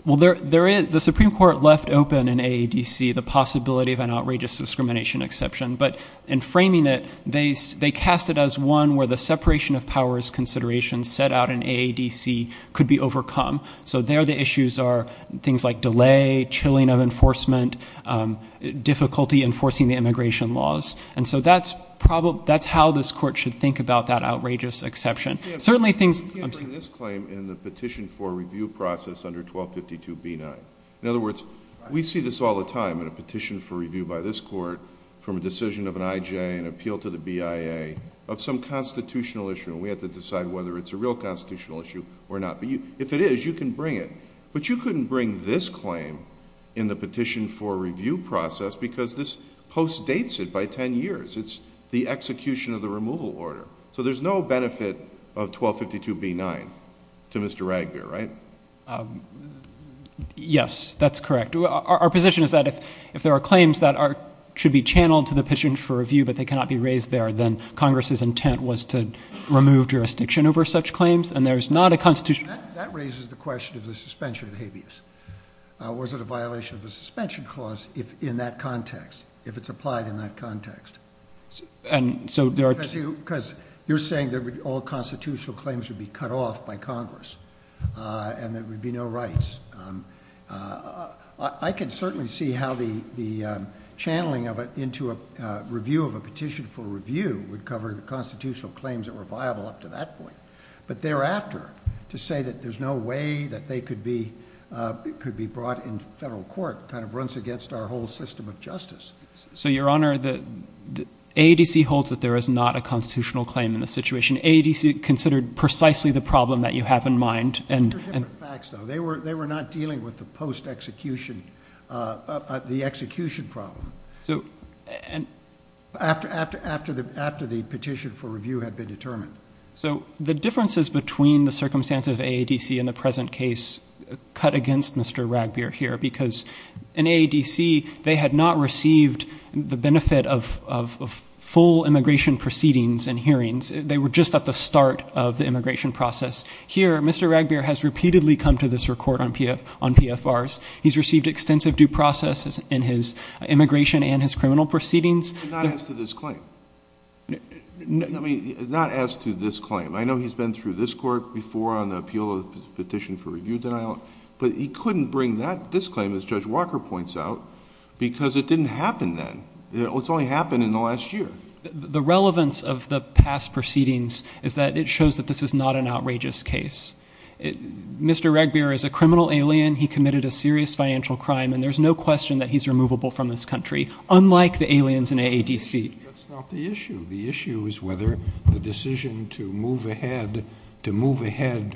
Well, there is – the Supreme Court left open in AADC the possibility of an outrageous discrimination exception, but in framing it, they cast it as one where the separation of powers consideration set out in AADC could be overcome. So there the issues are things like delay, chilling of enforcement, difficulty enforcing the immigration laws. And so that's how this Court should think about that outrageous exception. You can't bring this claim in the petition for review process under 1252b9. In other words, you can't bring this Court from a decision of an IJ, an appeal to the BIA, of some constitutional issue. We have to decide whether it's a real constitutional issue or not. If it is, you can bring it. But you couldn't bring this claim in the petition for review process because this post dates it by 10 years. It's the execution of the removal order. So there's no benefit of 1252b9 to Mr. Ragbeer, right? Yes, that's correct. Our position is that if there are claims that should be channeled to the petition for review but they cannot be raised there, then Congress's intent was to remove jurisdiction over such claims, and there's not a constitutional – That raises the question of the suspension of habeas. Was it a violation of the suspension clause in that context, if it's applied in that context? And so there are – I can certainly see how the channeling of it into a review of a petition for review would cover the constitutional claims that were viable up to that point. But thereafter, to say that there's no way that they could be brought into federal court kind of runs against our whole system of justice. So, Your Honor, AADC holds that there is not a constitutional claim in this situation. AADC considered precisely the problem that you have in mind. These are different facts, though. They were not dealing with the post-execution – the execution problem after the petition for review had been determined. So the differences between the circumstances of AADC and the present case cut against Mr. Ragbeer here because in AADC, they had not received the benefit of full immigration proceedings and hearings. They were just at the start of the immigration process. Here, Mr. Ragbeer has repeatedly come to this court on PFRs. He's received extensive due process in his immigration and his criminal proceedings. Not as to this claim. I mean, not as to this claim. I know he's been through this court before on the appeal of the petition for review denial, but he couldn't bring this claim, as Judge Walker points out, because it didn't happen then. It's only happened in the last year. The relevance of the past proceedings is that it shows that this is not an outrageous case. Mr. Ragbeer is a criminal alien. He committed a serious financial crime, and there's no question that he's removable from this country, unlike the aliens in AADC. That's not the issue. The issue is whether the decision to move ahead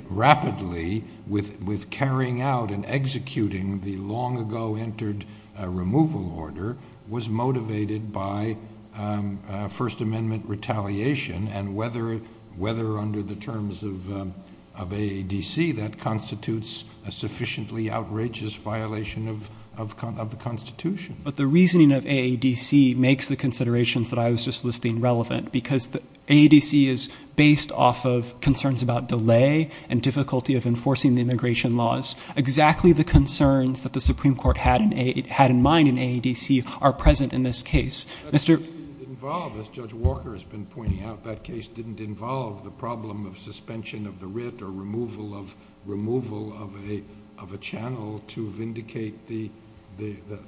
rapidly with carrying out and executing the long-ago entered removal order was motivated by First Amendment retaliation and whether under the terms of AADC, that constitutes a sufficiently outrageous violation of the Constitution. But the reasoning of AADC makes the considerations that I was just listing relevant, because AADC is based off of concerns about delay and difficulty of enforcing the immigration laws. Exactly the concerns that the Supreme Court had in mind in AADC are present in this case. That case didn't involve, as Judge Walker has been pointing out, that case didn't involve the problem of suspension of the writ or removal of a channel to vindicate the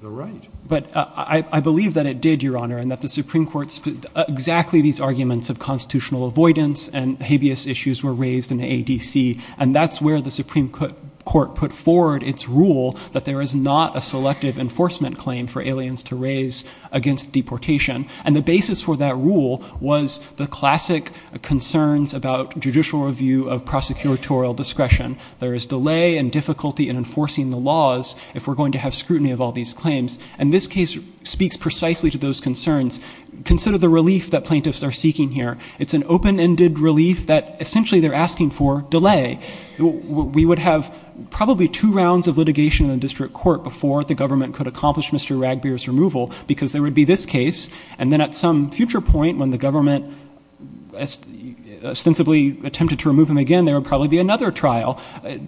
right. But I believe that it did, Your Honor, and that the Supreme Court's exactly these arguments of constitutional avoidance and habeas issues were raised in AADC. And that's where the Supreme Court put forward its rule that there is not a selective enforcement claim for aliens to raise against deportation. And the basis for that rule was the classic concerns about judicial review of prosecutorial discretion. There is delay and difficulty in enforcing the laws if we're going to have And this case speaks precisely to those concerns. Consider the relief that plaintiffs are seeking here. It's an open-ended relief that essentially they're asking for delay. We would have probably two rounds of litigation in the district court before the government could accomplish Mr. Ragbeer's removal, because there would be this case. And then at some future point, when the government ostensibly attempted to remove him again, there would probably be another trial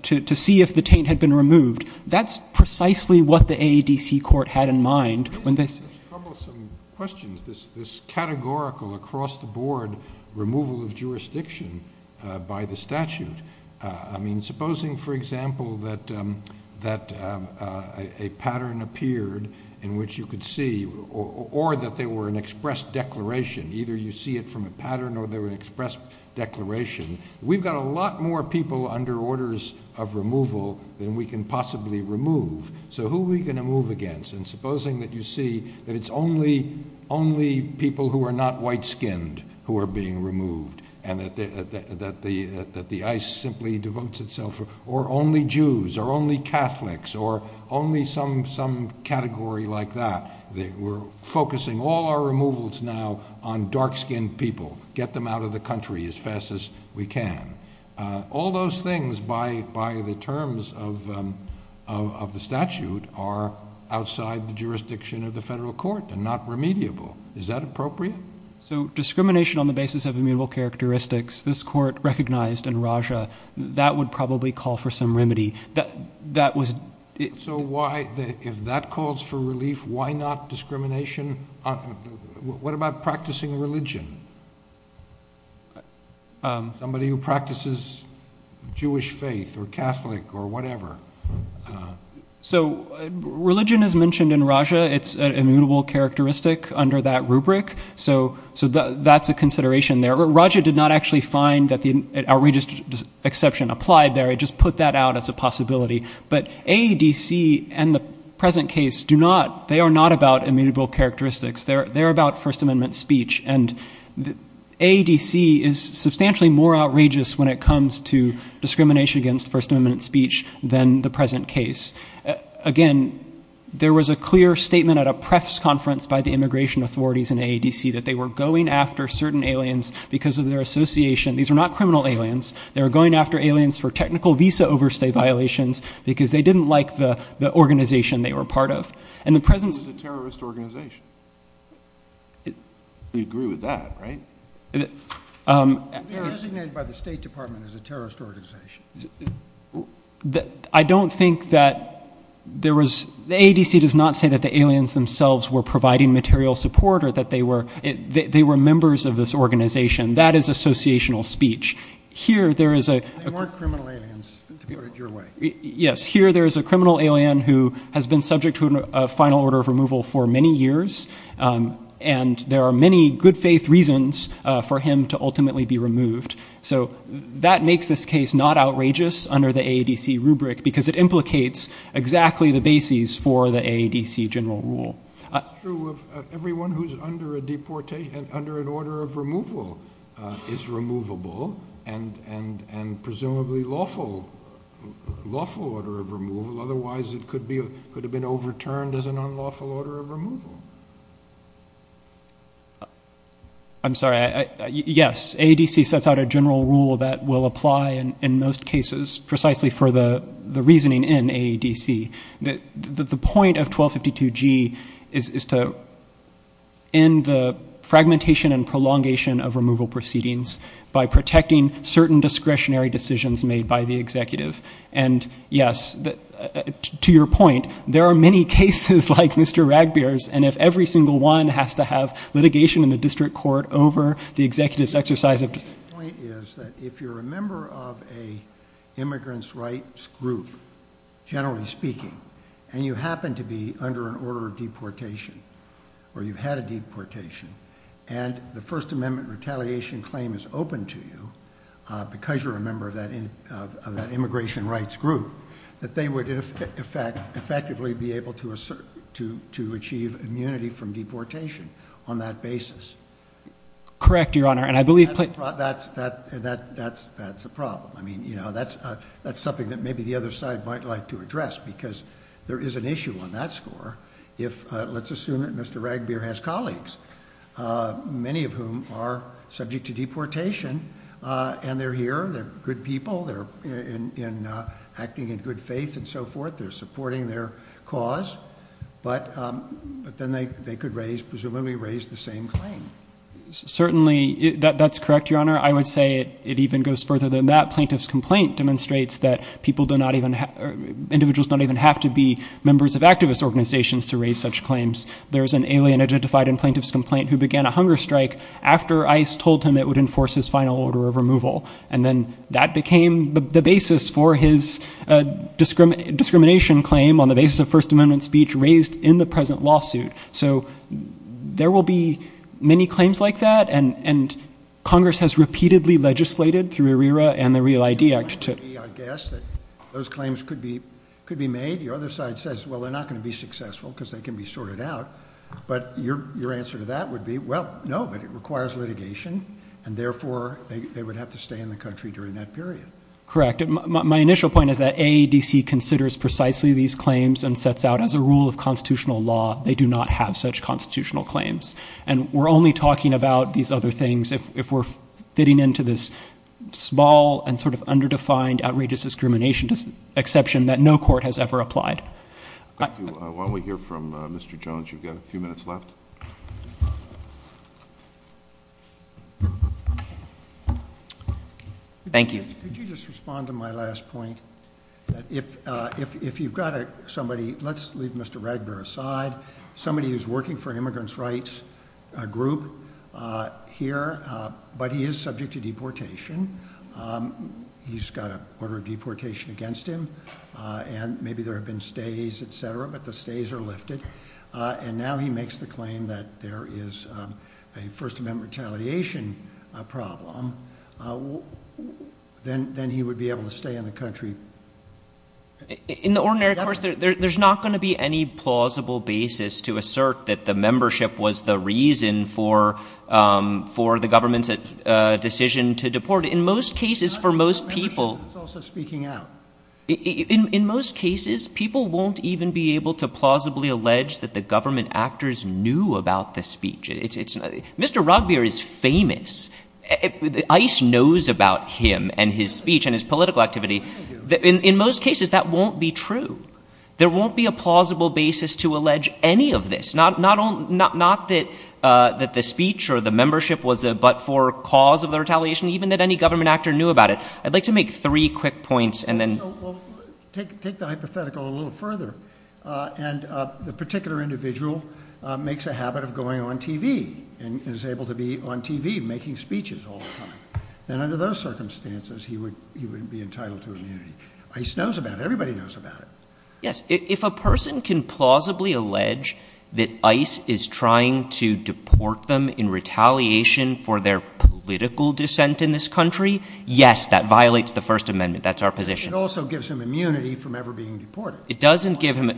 to see if the taint had been removed. That's precisely what the AADC court had in mind. There's troublesome questions, this categorical across-the-board removal of jurisdiction by the statute. I mean, supposing, for example, that a pattern appeared in which you could see, or that they were an express declaration. Either you see it from a pattern or they were an express declaration. We've got a lot more people under orders of removal than we can possibly remove. So who are we going to move against? And supposing that you see that it's only people who are not white-skinned who are being removed, and that the ICE simply devotes itself, or only Jews, or only Catholics, or only some category like that. We're focusing all our removals now on dark-skinned people. Get them out of the country as fast as we can. All those things, by the terms of the statute, are outside the jurisdiction of the federal court and not remediable. Is that appropriate? So discrimination on the basis of immutable characteristics, this court recognized in Raja, that would probably call for some remedy. That was... So why, if that calls for relief, why not discrimination on... What about practicing religion? Somebody who practices Jewish faith, or Catholic, or whatever? So religion is mentioned in Raja. It's an immutable characteristic under that rubric. So that's a consideration there. Raja did not actually find that the outrageous exception applied there. It just put that out as a possibility. But AEDC and the present case do not... They're about First Amendment speech. And AEDC is substantially more outrageous when it comes to discrimination against First Amendment speech than the present case. Again, there was a clear statement at a PREFS conference by the immigration authorities in AEDC that they were going after certain aliens because of their association. These are not criminal aliens. They were going after aliens for technical visa overstay violations because they didn't like the organization they were part of. And the present... It was a terrorist organization. We agree with that, right? They were designated by the State Department as a terrorist organization. I don't think that there was... AEDC does not say that the aliens themselves were providing material support or that they were members of this organization. That is associational speech. Here there is a... They weren't criminal aliens, to put it your way. Yes. Here there is a criminal alien who has been subject to a final order of removal for many years. And there are many good faith reasons for him to ultimately be removed. So that makes this case not outrageous under the AEDC rubric because it implicates exactly the bases for the AEDC general rule. It's true of everyone who's under a deportation... Under an order of removal is removable and presumably lawful. Lawful order of removal. Otherwise it could have been overturned as an unlawful order of removal. I'm sorry. Yes. AEDC sets out a general rule that will apply in most cases precisely for the reasoning in AEDC. The point of 1252G is to end the fragmentation and prolongation of removal proceedings by protecting certain discretionary decisions made by the executive. And yes, to your point, there are many cases like Mr. Ragbeer's and if every single one has to have litigation in the district court over the executive's exercise of... My point is that if you're a member of an immigrants' rights group, generally speaking, and you happen to be under an order of deportation or you've had a deportation, and the First Amendment retaliation claim is open to you because you're a member of that immigration rights group, that they would effectively be able to achieve immunity from deportation on that basis. Correct, Your Honor, and I believe... That's a problem. I mean, you know, that's something that maybe the other side might like to address because there is an issue on that score if, let's assume that Mr. Ragbeer has colleagues, many of whom are subject to deportation and they're here, they're good people, they're acting in good faith and so forth, they're supporting their cause, but then they could presumably raise the same claim. Certainly, that's correct, Your Honor. I would say it even goes further than that. Plaintiff's complaint demonstrates that individuals don't even have to be members of activist organizations to raise such claims. There's an alien identified in plaintiff's complaint who began a hunger strike after ICE told him it would enforce his final order of removal, and then that became the basis for his discrimination claim on the basis of First Amendment speech raised in the present lawsuit. So there will be many claims like that, and Congress has repeatedly legislated through ARERA and the REAL ID Act to... I guess that those claims could be made. Your other side says, well, they're not going to be successful because they can be sorted out, but your answer to that would be, well, no, but it requires litigation, and therefore they would have to stay in the country during that period. Correct. My initial point is that AADC considers precisely these claims and sets out as a rule of constitutional law, they do not have such constitutional claims. And we're only talking about these other things if we're fitting into this small and sort of underdefined, outrageous discrimination exception that no court has ever applied. Thank you. While we hear from Mr. Jones, you've got a few minutes left. Thank you. Could you just respond to my last point? If you've got somebody, let's leave Mr. Ragbear aside, somebody who's working for an immigrants' rights group here, but he is subject to deportation. He's got an order of deportation against him, and maybe there have been stays, et cetera, but the stays are lifted. And now he makes the claim that there is a First Amendment retaliation problem. Then he would be able to stay in the country... In the ordinary course, there's not going to be any plausible basis to assert that the In most cases, people won't even be able to plausibly allege that the government actors knew about the speech. Mr. Ragbear is famous. ICE knows about him and his speech and his political activity. In most cases, that won't be true. There won't be a plausible basis to allege any of this, not that the speech or the membership was a but-for cause of the retaliation, even that any government actor knew about it. I'd like to make three quick points, and then... Well, take the hypothetical a little further. And the particular individual makes a habit of going on TV and is able to be on TV making speeches all the time. And under those circumstances, he would be entitled to immunity. ICE knows about it. Everybody knows about it. Yes. If a person can plausibly allege that ICE is trying to deport them in retaliation for their political dissent in this country, yes, that violates the First Amendment. That's our position. It also gives him immunity from ever being deported. It doesn't give him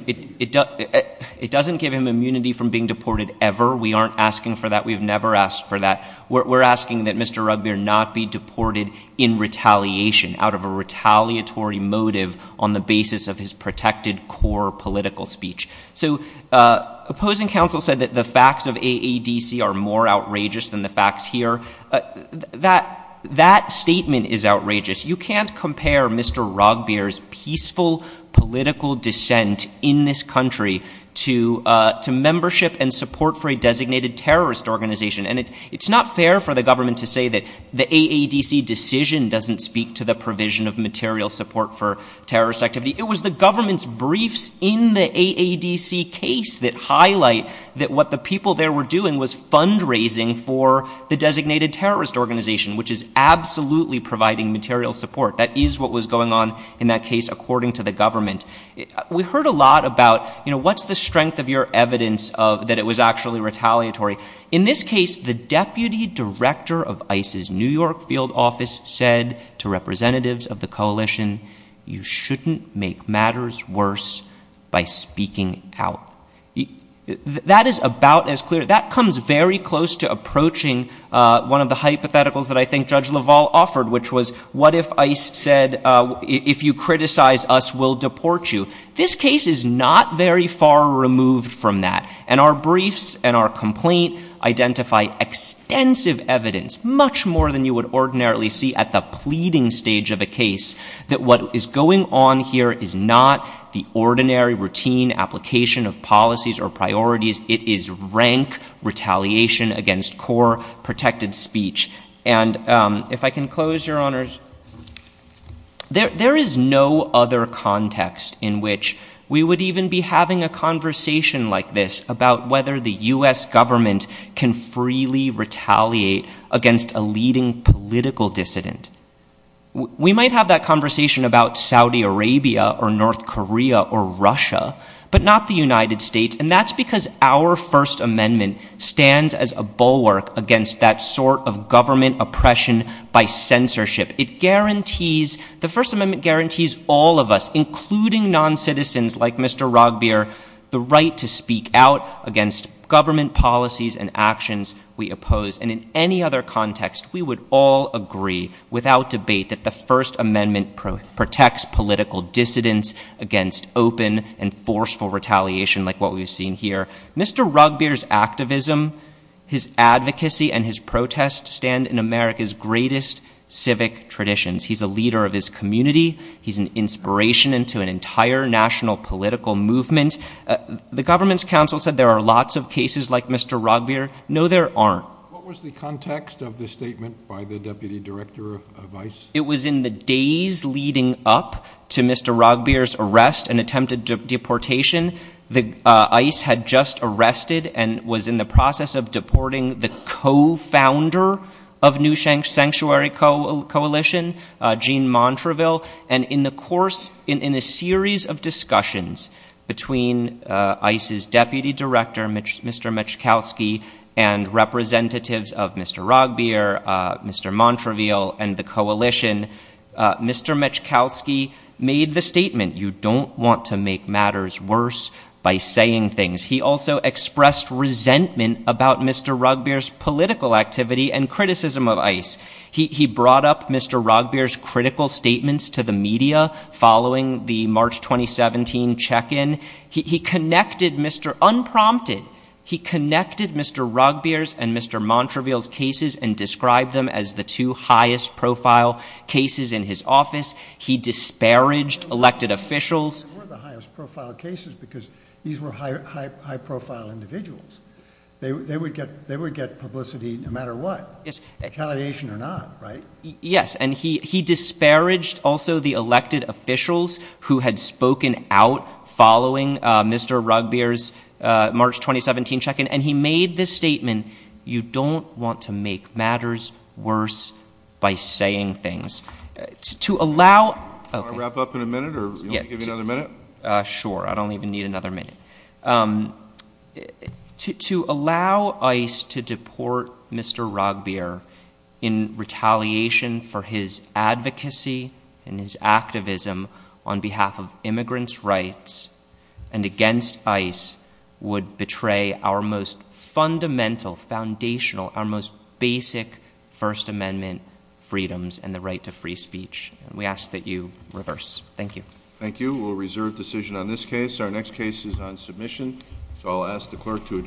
immunity from being deported ever. We aren't asking for that. We've never asked for that. We're asking that Mr. Ragbear not be deported in retaliation out of a retaliatory motive on the basis of his protected core political speech. So, opposing counsel said that the facts of AADC are more outrageous than the facts here. That statement is outrageous. You can't compare Mr. Ragbear's peaceful political dissent in this country to membership and support for a designated terrorist organization. And it's not fair for the government to say that the AADC decision doesn't speak to the provision of material support for terrorist activity. It was the government's briefs in the AADC case that highlight that what the people there were doing was fundraising for the designated terrorist organization, which is absolutely providing material support. That is what was going on in that case according to the government. We heard a lot about, you know, what's the strength of your evidence that it was actually retaliatory. In this case, the deputy director of ICE's New York field office said to representatives of the coalition, you shouldn't make matters worse by speaking out. That is about as clear, that comes very close to approaching one of the hypotheticals that I think Judge LaValle offered, which was, what if ICE said, if you criticize us, we'll deport you. This case is not very far removed from that. And our briefs and our complaint identify extensive evidence, much more than you would ordinarily see at the pleading stage of a case, that what is going on here is not the ordinary routine application of policies or priorities. It is rank retaliation against core protected speech. And if I can close, Your Honors, there is no other context in which we would even be having a conversation like this about whether the U.S. government can freely retaliate against a leading political dissident. We might have that conversation about Saudi Arabia or North Korea or Russia, but not the United States. And that's because our First Amendment stands as a bulwark against that sort of government oppression by censorship. It guarantees, the First Amendment guarantees all of us, including non-citizens like Mr. Rugbeer, the right to speak out against government policies and actions we oppose. And in any other context, we would all agree without debate that the First Amendment protects political dissidents against open and forceful retaliation like what we've seen here. Mr. Rugbeer's activism, his advocacy, and his protest stand in America's greatest civic traditions. He's a leader of his community. He's an inspiration into an entire national political movement. The government's counsel said there are lots of cases like Mr. Rugbeer. No, there aren't. What was the context of the statement by the Deputy Director of ICE? It was in the days leading up to Mr. Rugbeer's arrest and attempted deportation. ICE had just arrested and was in the process of deporting the co-founder of New Sanctuary Coalition, Gene Montreville. And in the course, in a series of discussions between ICE's Deputy Director, Mr. Metchkowski, and representatives of Mr. Rugbeer, Mr. Montreville, and the Coalition, Mr. Metchkowski made the statement, you don't want to make matters worse by saying things. He also expressed resentment about Mr. Rugbeer's political activity and criticism of ICE. He brought up Mr. Rugbeer's critical statements to the media following the March 2017 check-in. He connected Mr., unprompted, he connected Mr. Rugbeer's and Mr. Montreville's cases and described them as the two highest profile cases in his office. He disparaged elected officials. They weren't the highest profile cases because these were high profile individuals. They would get publicity no matter what, retaliation or not, right? Yes, and he disparaged also the elected officials who had spoken out following Mr. Rugbeer's March 2017 check-in. And he made this statement, you don't want to make matters worse by saying things. Do you want to wrap up in a minute or do you want me to give you another minute? Sure, I don't even need another minute. To allow ICE to deport Mr. Rugbeer in retaliation for his advocacy and his activism on behalf of immigrants' rights and against ICE would betray our most fundamental, foundational, our most basic First Amendment freedoms and the right to free speech. We ask that you reverse. Thank you. Thank you. We'll reserve decision on this case. Our next case is on submission. So I'll ask the clerk to adjourn court.